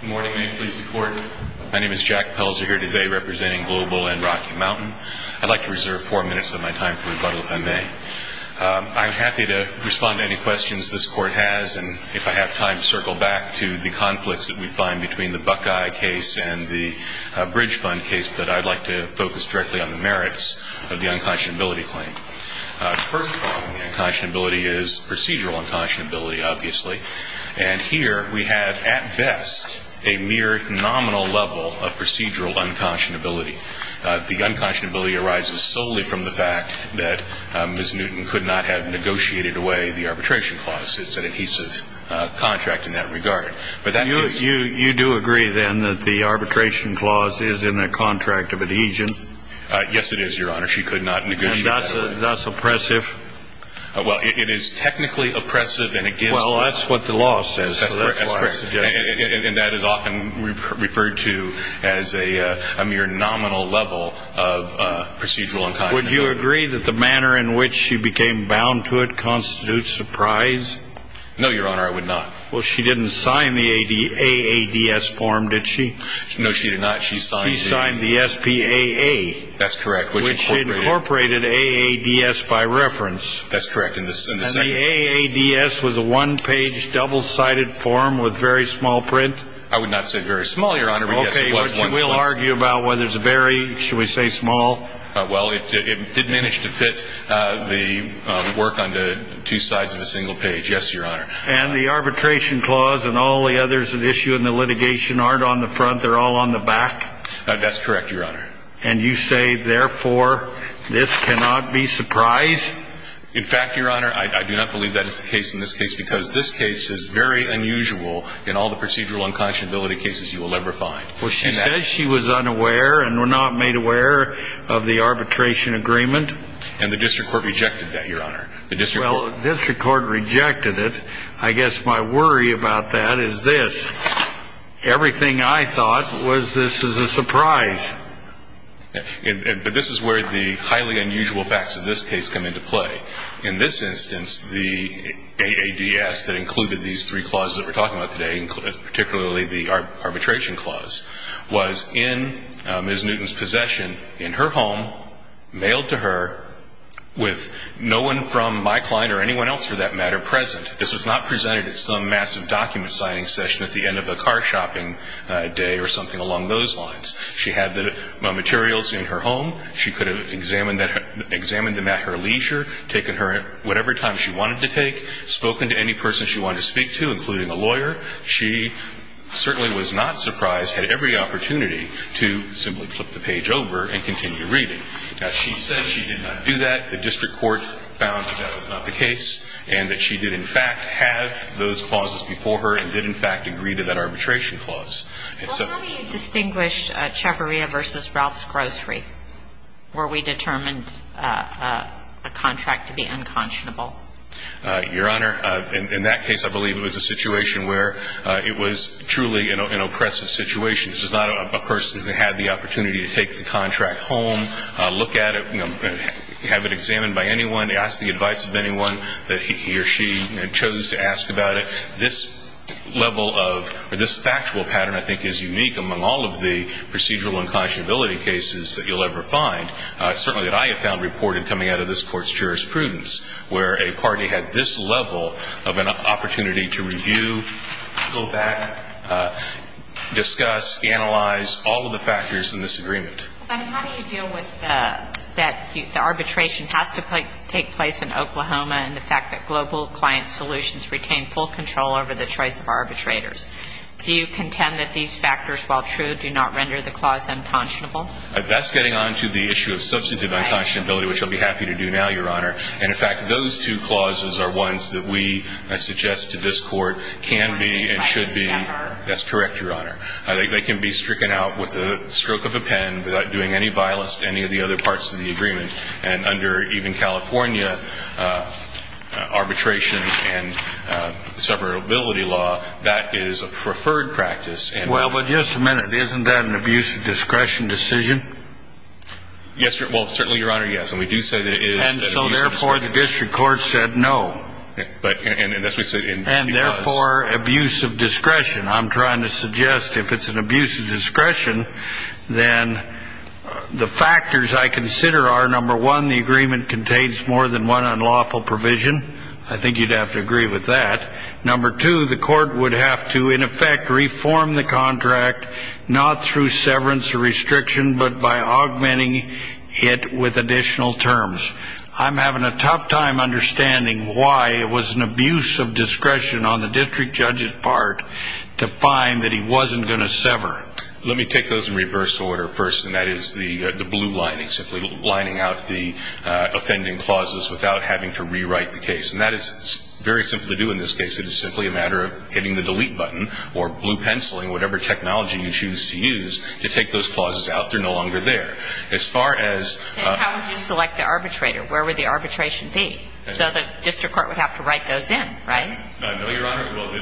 Good morning. May it please the Court. My name is Jack Pelzer here today representing Global and Rocky Mountain. I'd like to reserve four minutes of my time for rebuttal if I may. I'm happy to respond to any questions this Court has and, if I have time, circle back to the conflicts that we find between the Buckeye case and the Bridge Fund case, but I'd like to focus directly on the merits of the unconscionability claim. First of all, the unconscionability is procedural unconscionability, obviously. And here we have, at best, a mere nominal level of procedural unconscionability. The unconscionability arises solely from the fact that Ms. Newton could not have negotiated away the arbitration clause. It's an adhesive contract in that regard. You do agree, then, that the arbitration clause is in a contract of adhesion? Yes, it is, Your Honor. She could not negotiate that away. And that's oppressive? Well, it is technically oppressive and it gives the- Well, that's what the law says. That's correct. And that is often referred to as a mere nominal level of procedural unconscionability. Would you agree that the manner in which she became bound to it constitutes surprise? No, Your Honor, I would not. Well, she didn't sign the AADS form, did she? No, she did not. She signed the- She signed the SPAA. That's correct. Which incorporated AADS by reference. That's correct. And the AADS was a one-page, double-sided form with very small print? I would not say very small, Your Honor. Okay, but you will argue about whether it's very, shall we say, small? Well, it did manage to fit the work onto two sides of a single page, yes, Your Honor. And the arbitration clause and all the others at issue in the litigation aren't on the front. They're all on the back? That's correct, Your Honor. And you say, therefore, this cannot be surprise? In fact, Your Honor, I do not believe that is the case in this case, because this case is very unusual in all the procedural unconscionability cases you will ever find. Well, she says she was unaware and not made aware of the arbitration agreement. And the district court rejected that, Your Honor. Well, the district court rejected it. I guess my worry about that is this. Everything I thought was this is a surprise. But this is where the highly unusual facts of this case come into play. In this instance, the AADS that included these three clauses that we're talking about today, particularly the arbitration clause, was in Ms. Newton's possession in her home, mailed to her with no one from my client or anyone else for that matter present. This was not presented at some massive document signing session at the end of a car shopping day or something along those lines. She had the materials in her home. She could have examined them at her leisure, taken her whatever time she wanted to take, spoken to any person she wanted to speak to, including a lawyer. She certainly was not surprised at every opportunity to simply flip the page over and continue reading. Now, she said she did not do that. The district court found that that was not the case and that she did, in fact, have those clauses before her and did, in fact, agree to that arbitration clause. Well, how do you distinguish Chaparrita v. Ralph's Grocery where we determined a contract to be unconscionable? Your Honor, in that case, I believe it was a situation where it was truly an oppressive situation. This was not a person who had the opportunity to take the contract home, look at it, have it examined by anyone, ask the advice of anyone that he or she chose to ask about it. This level of or this factual pattern, I think, is unique among all of the procedural unconscionability cases that you'll ever find, certainly that I have found reported coming out of this Court's jurisprudence, where a party had this level of an opportunity to review, go back, discuss, analyze all of the factors in this agreement. But how do you deal with that the arbitration has to take place in Oklahoma and the fact that global client solutions retain full control over the choice of arbitrators? Do you contend that these factors, while true, do not render the clause unconscionable? That's getting on to the issue of substantive unconscionability, which I'll be happy to do now, Your Honor. And, in fact, those two clauses are ones that we suggest to this Court can be and should be. That's correct, Your Honor. They can be stricken out with the stroke of a pen without doing any violence to any of the other parts of the agreement. And under even California arbitration and separability law, that is a preferred practice. Well, but just a minute. Isn't that an abuse of discretion decision? Yes, well, certainly, Your Honor, yes. And we do say that it is an abuse of discretion. And so, therefore, the district court said no. And that's what we said. And, therefore, abuse of discretion. I'm trying to suggest if it's an abuse of discretion, then the factors I consider are, number one, the agreement contains more than one unlawful provision. I think you'd have to agree with that. Number two, the court would have to, in effect, reform the contract, not through severance or restriction, but by augmenting it with additional terms. I'm having a tough time understanding why it was an abuse of discretion on the district judge's part to find that he wasn't going to sever. Let me take those in reverse order first, and that is the blue lining, simply lining out the offending clauses without having to rewrite the case. And that is very simple to do in this case. It is simply a matter of hitting the delete button or blue penciling, whatever technology you choose to use, to take those clauses out. They're no longer there. As far as ---- And how would you select the arbitrator? Where would the arbitration be? So the district court would have to write those in, right? No, Your Honor. Well, the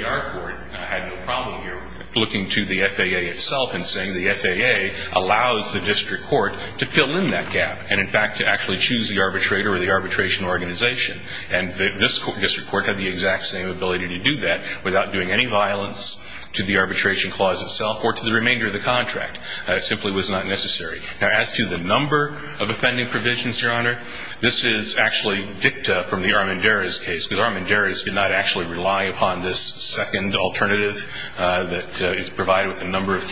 GAR court had no problem here looking to the FAA itself and saying the FAA allows the district court to fill in that gap and, in fact, to actually choose the arbitrator or the arbitration organization. And this district court had the exact same ability to do that without doing any violence to the arbitration clause itself or to the remainder of the contract. It simply was not necessary. Now, as to the number of offending provisions, Your Honor, this is actually dicta from the Armendariz case, because Armendariz did not actually rely upon this second alternative that is provided with a number of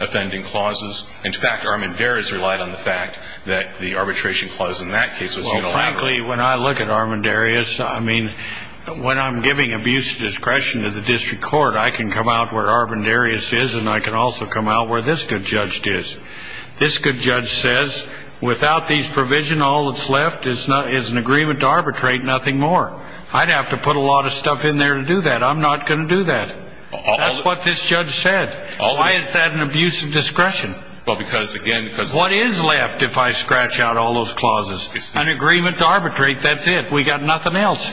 offending clauses. In fact, Armendariz relied on the fact that the arbitration clause in that case was unilateral. Well, frankly, when I look at Armendariz, I mean, when I'm giving abuse of discretion to the district court, I can come out where Armendariz is, and I can also come out where this good judge is. This good judge says, without these provisions, all that's left is an agreement to arbitrate, nothing more. I'd have to put a lot of stuff in there to do that. I'm not going to do that. That's what this judge said. Why is that an abuse of discretion? Well, because, again, because the district court… What is left if I scratch out all those clauses? An agreement to arbitrate, that's it. We've got nothing else.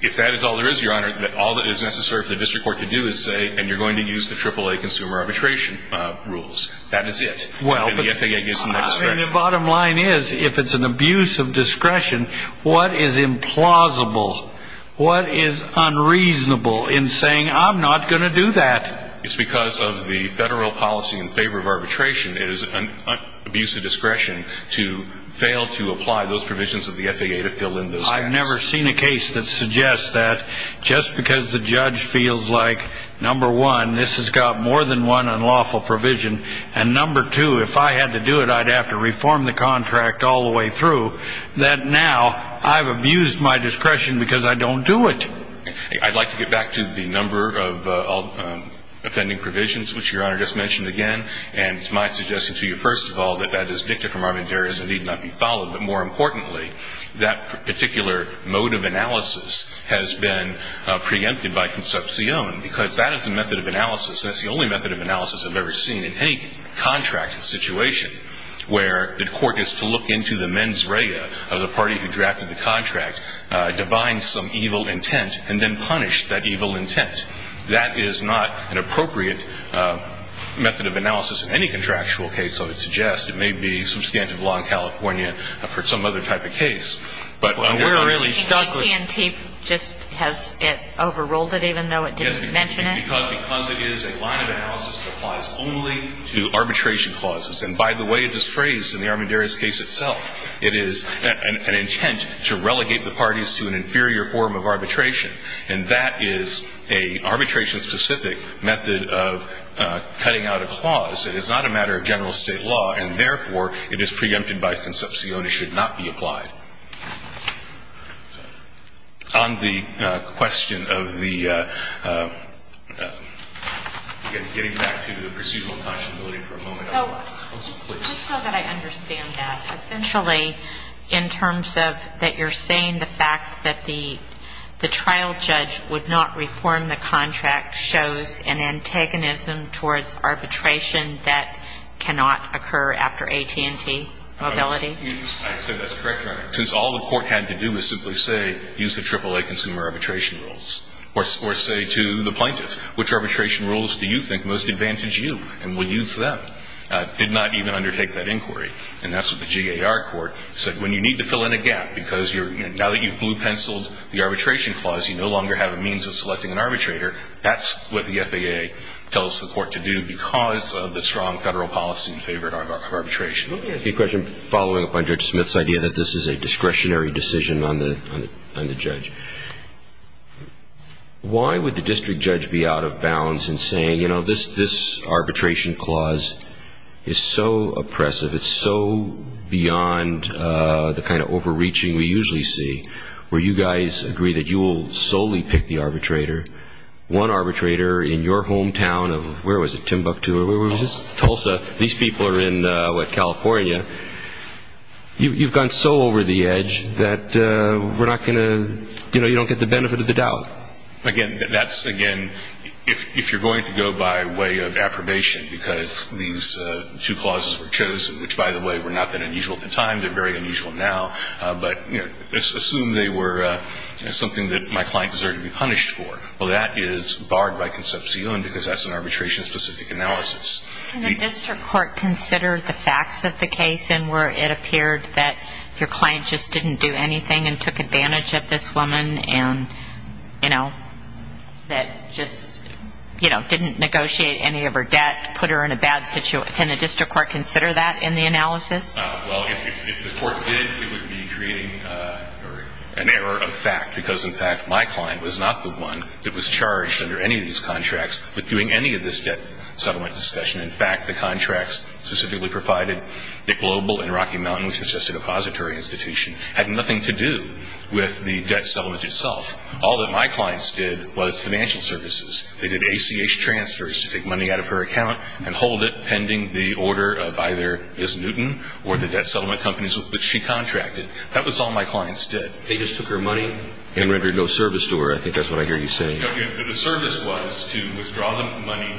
If that is all there is, Your Honor, then all that is necessary for the district court to do is say, and you're going to use the AAA consumer arbitration rules. That is it. And the FAA gives them that discretion. The bottom line is, if it's an abuse of discretion, what is implausible, what is unreasonable in saying, I'm not going to do that? It's because of the federal policy in favor of arbitration. It is an abuse of discretion to fail to apply those provisions of the FAA to fill in those gaps. I've never seen a case that suggests that just because the judge feels like, number one, this has got more than one unlawful provision, and number two, if I had to do it, I'd have to reform the contract all the way through, that now I've abused my discretion because I don't do it. I'd like to get back to the number of offending provisions, which Your Honor just mentioned again, and it's my suggestion to you, first of all, that that is dictated from arbitrariness and need not be followed, but more importantly, that particular mode of analysis has been preempted by concepcion because that is the method of analysis, and it's the only method of analysis I've ever seen in any contract situation where the court is to look into the mens rea of the party who drafted the contract, divine some evil intent, and then punish that evil intent. That is not an appropriate method of analysis in any contractual case, and so it suggests it may be substantive law in California for some other type of case. But we're really struggling. I think Alexi and Teep just has it overruled it, even though it didn't mention it. Yes, because it is a line of analysis that applies only to arbitration clauses. And by the way, it is phrased in the Armendariz case itself. It is an intent to relegate the parties to an inferior form of arbitration, and that is a arbitration-specific method of cutting out a clause. It is not a matter of general state law, and therefore, it is preempted by concepcion. It should not be applied. On the question of the, again, getting back to the procedural inconsolability for a moment. So just so that I understand that, essentially, in terms of that you're saying the fact that the trial judge would not reform the contract shows an antagonism towards arbitration that cannot occur after AT&T mobility? I said that's correct, Your Honor. Since all the court had to do was simply say, use the AAA consumer arbitration rules, or say to the plaintiff, which arbitration rules do you think most advantage you, and we'll use them, did not even undertake that inquiry. And that's what the GAR court said. When you need to fill in a gap, because now that you've blue-penciled the arbitration clause, you no longer have a means of selecting an arbitrator, that's what the FAA tells the court to do because of the strong federal policy in favor of arbitration. I have a question following up on Judge Smith's idea that this is a discretionary decision on the judge. Why would the district judge be out of bounds in saying, you know, this arbitration clause is so oppressive, it's so beyond the kind of overreaching we usually see, where you guys agree that you will solely pick the arbitrator, one arbitrator in your hometown of, where was it, Timbuktu? Tulsa. Tulsa. These people are in, what, California. You've gone so over the edge that we're not going to, you know, you don't get the benefit of the doubt. Again, that's, again, if you're going to go by way of approbation, because these two clauses were chosen, which, by the way, were not that unusual at the time. They're very unusual now. But, you know, assume they were something that my client deserved to be punished for. Well, that is barred by concepcion because that's an arbitration-specific analysis. Can the district court consider the facts of the case in where it appeared that your client just didn't do anything and took advantage of this woman and, you know, that just, you know, didn't negotiate any of her debt, put her in a bad situation? Can the district court consider that in the analysis? Well, if the court did, it would be creating an error of fact because, in fact, my client was not the one that was charged under any of these contracts with doing any of this debt settlement discussion. In fact, the contracts specifically provided that Global and Rocky Mountain, which was just a depository institution, had nothing to do with the debt settlement itself. All that my clients did was financial services. They did ACH transfers to take money out of her account and hold it pending the order of either Ms. Newton or the debt settlement companies which she contracted. That was all my clients did. They just took her money and rendered no service to her. I think that's what I hear you say. No, the service was to withdraw the money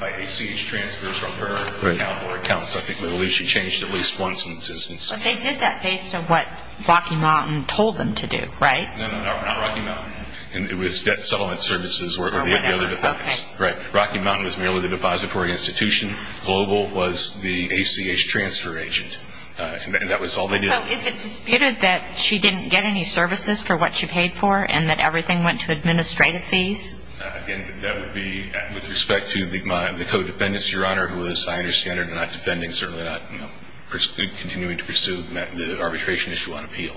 by ACH transfers from her account or accounts. I think she changed at least once in that instance. But they did that based on what Rocky Mountain told them to do, right? No, no, no, not Rocky Mountain. It was debt settlement services or the other defense. Right. Rocky Mountain was merely the depository institution. Global was the ACH transfer agent, and that was all they did. So is it disputed that she didn't get any services for what she paid for and that everything went to administrative fees? Again, that would be with respect to the co-defendants, Your Honor, who, as I understand it, are not defending, certainly not continuing to pursue the arbitration issue on appeal.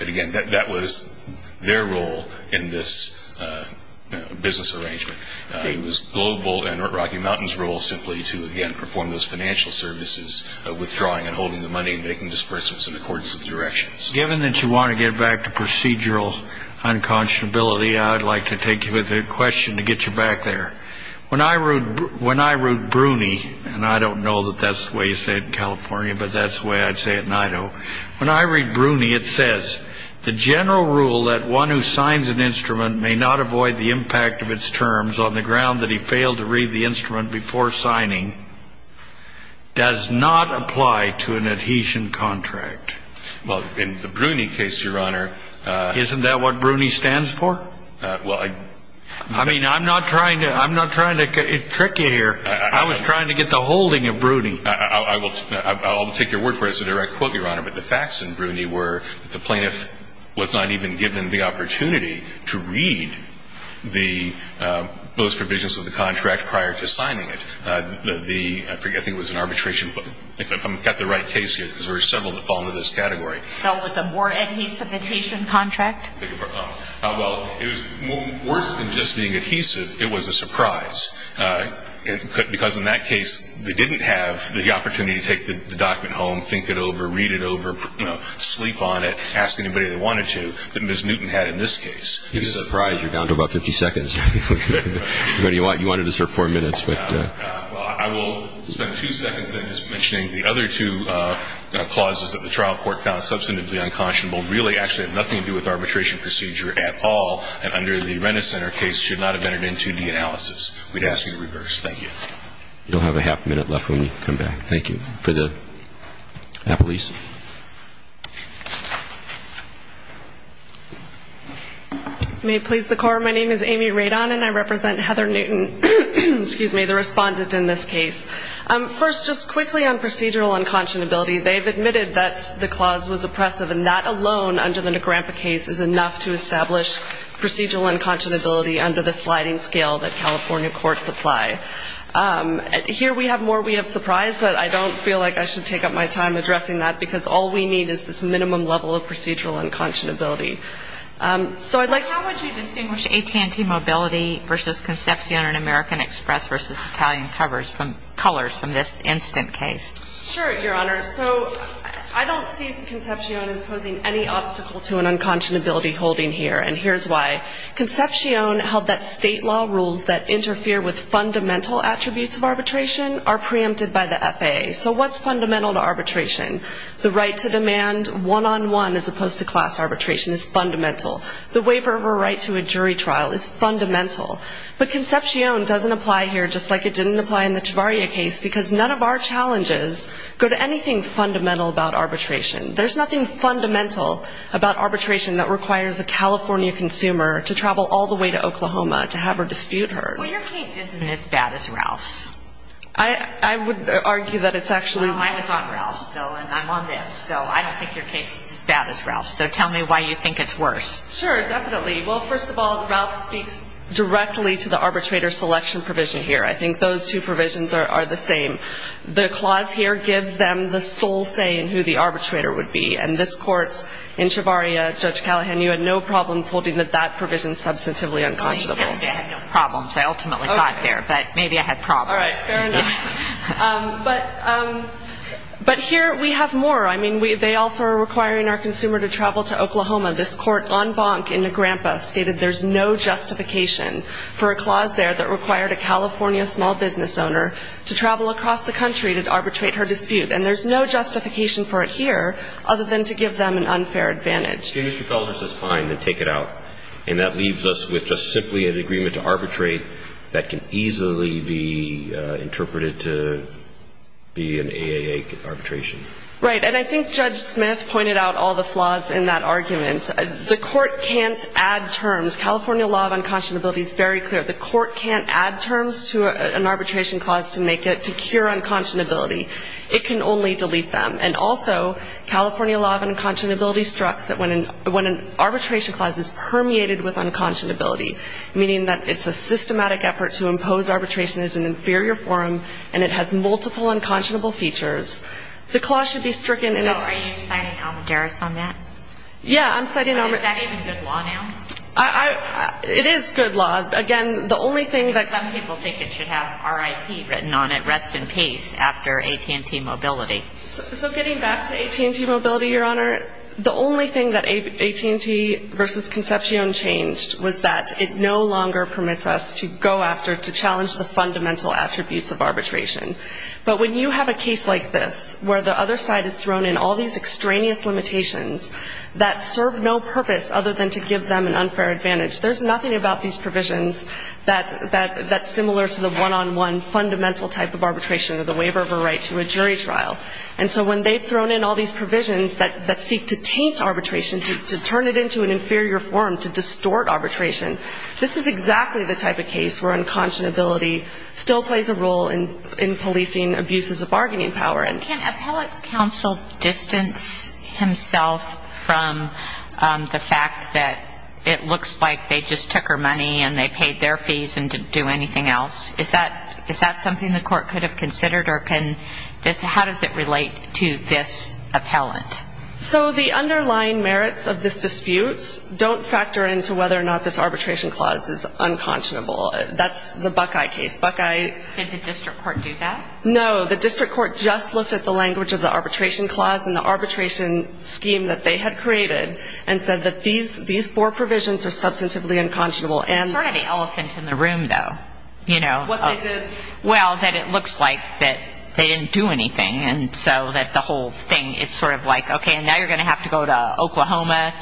And, again, that was their role in this business arrangement. It was Global and Rocky Mountain's role simply to, again, perform those financial services, withdrawing and holding the money and making disbursements in accordance with directions. Given that you want to get back to procedural unconscionability, I'd like to take you with a question to get you back there. When I read Bruni, and I don't know that that's the way you say it in California, but that's the way I'd say it in Idaho. When I read Bruni, it says, The general rule that one who signs an instrument may not avoid the impact of its terms on the ground that he failed to read the instrument before signing does not apply to an adhesion contract. Well, in the Bruni case, Your Honor, Isn't that what Bruni stands for? Well, I I mean, I'm not trying to trick you here. I was trying to get the holding of Bruni. I will take your word for it. It's a direct quote, Your Honor. But the facts in Bruni were that the plaintiff was not even given the opportunity to read the post provisions of the contract prior to signing it. The, I forget, I think it was an arbitration. If I've got the right case here, because there were several that fall into this category. So it was a more adhesive adhesion contract? Well, it was worse than just being adhesive. It was a surprise. Because in that case, they didn't have the opportunity to take the document home, think it over, read it over, sleep on it, ask anybody they wanted to, that Ms. Newton had in this case. It's a surprise. You're down to about 50 seconds. You wanted us for four minutes. Well, I will spend two seconds then just mentioning the other two clauses that the trial court found substantively unconscionable really actually have nothing to do with arbitration procedure at all and under the Rennes Center case should not have entered into the analysis. We'd ask you to reverse. Thank you. You'll have a half minute left when you come back. Thank you. For the police. May it please the court, my name is Amy Radon and I represent Heather Newton, the respondent in this case. First, just quickly on procedural unconscionability, they've admitted that the clause was oppressive and that alone under the Negrampa case is enough to establish procedural unconscionability under the sliding scale that California courts apply. Here we have more we have surprised, but I don't feel like I should take up my time addressing that because all we need is this minimum level of procedural unconscionability. So I'd like to ---- Well, how would you distinguish AT&T Mobility v. Concepcion and American Express v. Italian Colors from this instant case? Sure, Your Honor. So I don't see Concepcion as posing any obstacle to an unconscionability holding here, and here's why. Concepcion held that state law rules that interfere with fundamental attributes of arbitration are preempted by the FAA. So what's fundamental to arbitration? The right to demand one-on-one as opposed to class arbitration is fundamental. The waiver of a right to a jury trial is fundamental. But Concepcion doesn't apply here just like it didn't apply in the Chavarria case because none of our challenges go to anything fundamental about arbitration. There's nothing fundamental about arbitration that requires a California consumer to travel all the way to Oklahoma to have her dispute heard. Well, your case isn't as bad as Ralph's. I would argue that it's actually ---- I was on Ralph's, though, and I'm on this. So I don't think your case is as bad as Ralph's. So tell me why you think it's worse. Sure, definitely. Well, first of all, Ralph speaks directly to the arbitrator selection provision here. I think those two provisions are the same. The clause here gives them the sole say in who the arbitrator would be. And this court in Chavarria, Judge Callahan, you had no problems holding that that provision is substantively unconscionable. I had no problems. I ultimately got there, but maybe I had problems. All right, fair enough. But here we have more. I mean, they also are requiring our consumer to travel to Oklahoma. This court on Bonk in Nagrampa stated there's no justification for a clause there that required a California small business owner to travel across the country to arbitrate her dispute. And there's no justification for it here other than to give them an unfair advantage. Mr. Calder says fine, then take it out. And that leaves us with just simply an agreement to arbitrate that can easily be interpreted to be an AAA arbitration. Right. And I think Judge Smith pointed out all the flaws in that argument. The court can't add terms. California law of unconscionability is very clear. The court can't add terms to an arbitration clause to make it to cure unconscionability. It can only delete them. And also California law of unconscionability struts that when an arbitration clause is permeated with unconscionability, meaning that it's a systematic effort to impose arbitration as an inferior forum and it has multiple unconscionable features, the clause should be stricken. So are you citing Almoderas on that? Yeah, I'm citing Almoderas. Is that even good law now? It is good law. Again, the only thing that Some people think it should have RIP written on it, rest in peace, after AT&T Mobility. So getting back to AT&T Mobility, Your Honor, the only thing that AT&T versus Concepcion changed was that it no longer permits us to go after, to challenge the fundamental attributes of arbitration. But when you have a case like this where the other side has thrown in all these extraneous limitations that serve no purpose other than to give them an unfair advantage, there's nothing about these provisions that's similar to the one-on-one fundamental type of arbitration or the waiver of a right to a jury trial. And so when they've thrown in all these provisions that seek to taint arbitration, to turn it into an inferior forum, to distort arbitration, this is exactly the type of case where unconscionability still plays a role in policing abuses of bargaining power. Can appellate's counsel distance himself from the fact that it looks like they just took her money and they paid their fees and didn't do anything else? Is that something the court could have considered? Or how does it relate to this appellate? So the underlying merits of this dispute don't factor into whether or not this arbitration clause is unconscionable. That's the Buckeye case. Did the district court do that? No. The district court just looked at the language of the arbitration clause and the arbitration scheme that they had created and said that these four provisions are substantively unconscionable. There's not any elephant in the room, though. What they did? Well, that it looks like that they didn't do anything, and so that the whole thing is sort of like, okay, now you're going to have to go to Oklahoma,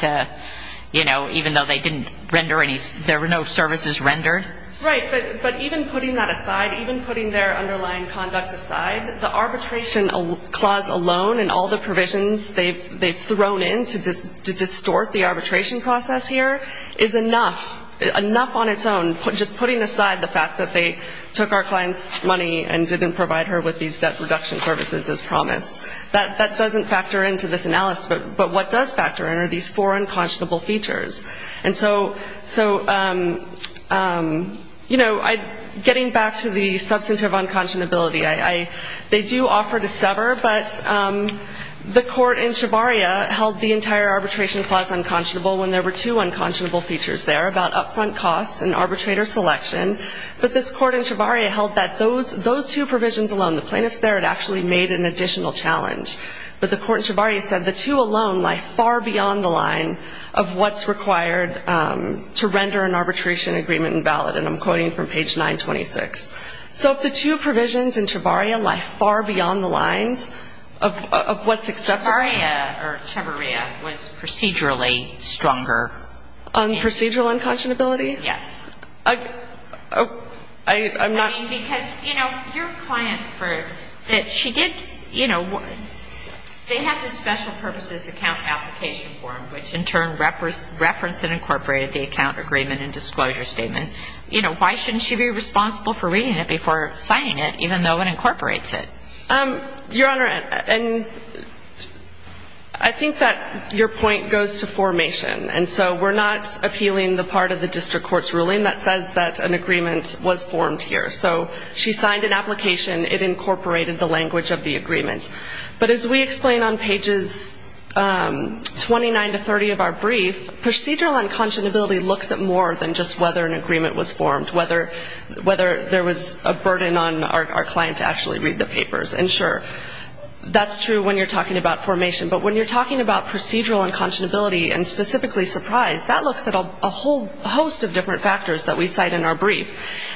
even though there were no services rendered. Right. But even putting that aside, even putting their underlying conduct aside, the arbitration clause alone and all the provisions they've thrown in to distort the arbitration process here is enough. Enough on its own. Just putting aside the fact that they took our client's money and didn't provide her with these debt reduction services as promised, that doesn't factor into this analysis. But what does factor in are these four unconscionable features. And so, you know, getting back to the substantive unconscionability, they do offer to sever, but the court in Shavaria held the entire arbitration clause unconscionable when there were two unconscionable features there about upfront costs and arbitrator selection. But this court in Shavaria held that those two provisions alone, the plaintiffs there had actually made an additional challenge. But the court in Shavaria said the two alone lie far beyond the line of what's required to render an arbitration agreement invalid. And I'm quoting from page 926. So if the two provisions in Shavaria lie far beyond the lines of what's acceptable. Shavaria was procedurally stronger. Procedural unconscionability? Yes. I'm not. I'm just quoting because, you know, your client said that she did, you know, they had the special purposes account application form, which in turn referenced and incorporated the account agreement and disclosure statement. You know, why shouldn't she be responsible for reading it before signing it, even though it incorporates it? Your Honor, I think that your point goes to formation. And so we're not appealing the part of the district court's ruling that says that an agreement was formed here. So she signed an application. It incorporated the language of the agreement. But as we explain on pages 29 to 30 of our brief, procedural unconscionability looks at more than just whether an agreement was formed, whether there was a burden on our client to actually read the papers. And, sure, that's true when you're talking about formation. But when you're talking about procedural unconscionability and specifically surprise, that looks at a whole host of different factors that we cite in our brief.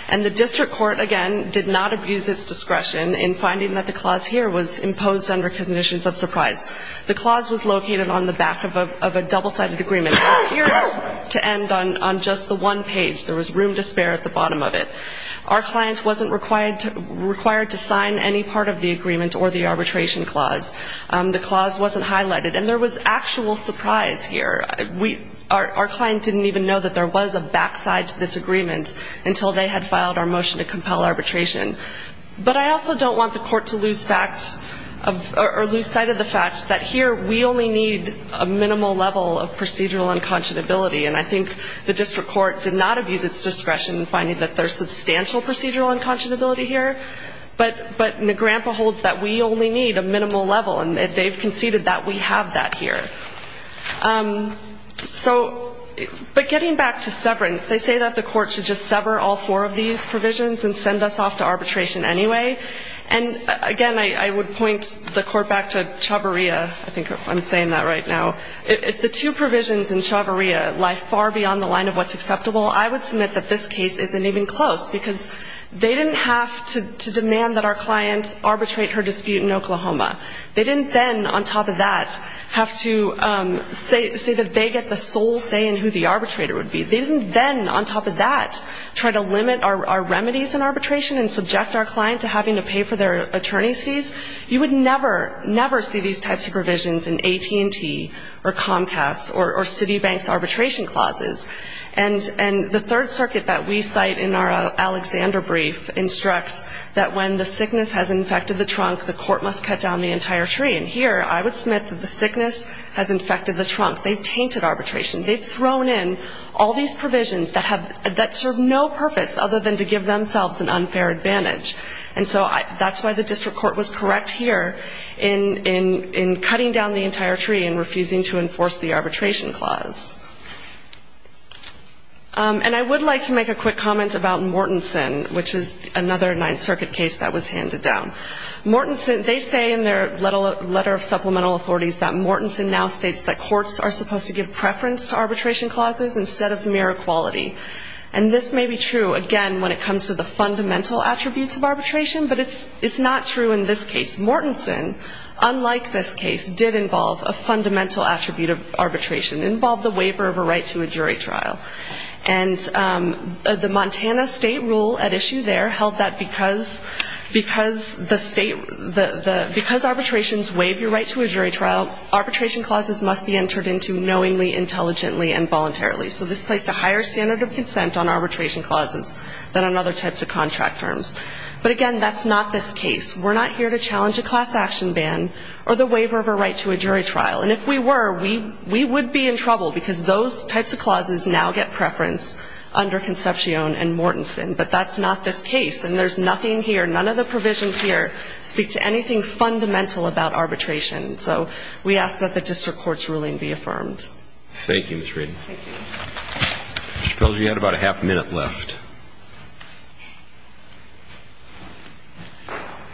And the district court, again, did not abuse its discretion in finding that the clause here was imposed under conditions of surprise. The clause was located on the back of a double-sided agreement. It appeared to end on just the one page. There was room to spare at the bottom of it. Our client wasn't required to sign any part of the agreement or the arbitration clause. The clause wasn't highlighted. And there was actual surprise here. Our client didn't even know that there was a backside to this agreement until they had filed our motion to compel arbitration. But I also don't want the court to lose sight of the fact that here we only need a minimal level of procedural unconscionability. And I think the district court did not abuse its discretion in finding that there's substantial procedural unconscionability here. But Nagrampa holds that we only need a minimal level, and they've conceded that we have that here. So, but getting back to severance, they say that the court should just sever all four of these provisions and send us off to arbitration anyway. And, again, I would point the court back to Chhabria. I think I'm saying that right now. If the two provisions in Chhabria lie far beyond the line of what's acceptable, I would submit that this case isn't even close because they didn't have to demand that our client arbitrate her dispute in Oklahoma. They didn't then, on top of that, have to say that they get the sole say in who the arbitrator would be. They didn't then, on top of that, try to limit our remedies in arbitration and subject our client to having to pay for their attorney's fees. You would never, never see these types of provisions in AT&T or Comcast or Citibank's arbitration clauses. And the Third Circuit that we cite in our Alexander brief instructs that when the sickness has infected the trunk, the court must cut down the entire tree. And here I would submit that the sickness has infected the trunk. They've tainted arbitration. They've thrown in all these provisions that have, that serve no purpose other than to give themselves an unfair advantage. And so that's why the district court was correct here in cutting down the entire tree and refusing to enforce the arbitration clause. And I would like to make a quick comment about Mortenson, which is another Ninth Circuit case that was handed down. Mortenson, they say in their letter of supplemental authorities that Mortenson now states that courts are supposed to give preference to arbitration clauses instead of mere equality. And this may be true, again, when it comes to the fundamental attributes of arbitration, but it's not true in this case. Mortenson, unlike this case, did involve a fundamental attribute of arbitration, involved the waiver of a right to a jury trial. And the Montana state rule at issue there held that because the state, because arbitrations waive your right to a jury trial, arbitration clauses must be entered into knowingly, intelligently, and voluntarily. So this placed a higher standard of consent on arbitration clauses than on other types of contract terms. But, again, that's not this case. We're not here to challenge a class action ban or the waiver of a right to a jury trial. And if we were, we would be in trouble, because those types of clauses now get preference under Concepcion and Mortenson. But that's not this case. And there's nothing here, none of the provisions here speak to anything fundamental about arbitration. So we ask that the district court's ruling be affirmed. Roberts. Thank you, Ms. Reading. Thank you. Mr. Pelzer, you had about a half a minute left.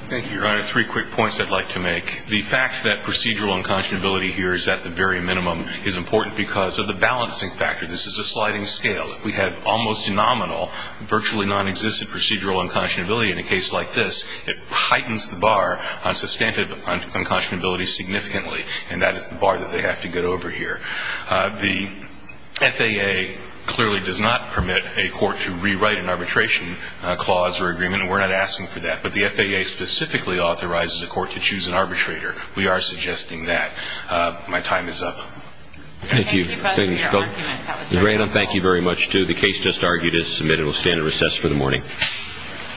Thank you, Your Honor. Three quick points I'd like to make. The fact that procedural unconscionability here is at the very minimum is important because of the balancing factor. This is a sliding scale. If we have almost nominal, virtually nonexistent procedural unconscionability in a case like this, it heightens the bar on substantive unconscionability significantly, and that is the bar that they have to get over here. The FAA clearly does not permit a court to rewrite an arbitration clause or agreement, and we're not asking for that. But the FAA specifically authorizes a court to choose an arbitrator. We are suggesting that. My time is up. Thank you. Thank you, Mr. Pelzer. Mr. Grandin, thank you very much, too. The case just argued is submitted. It will stand at recess for the morning.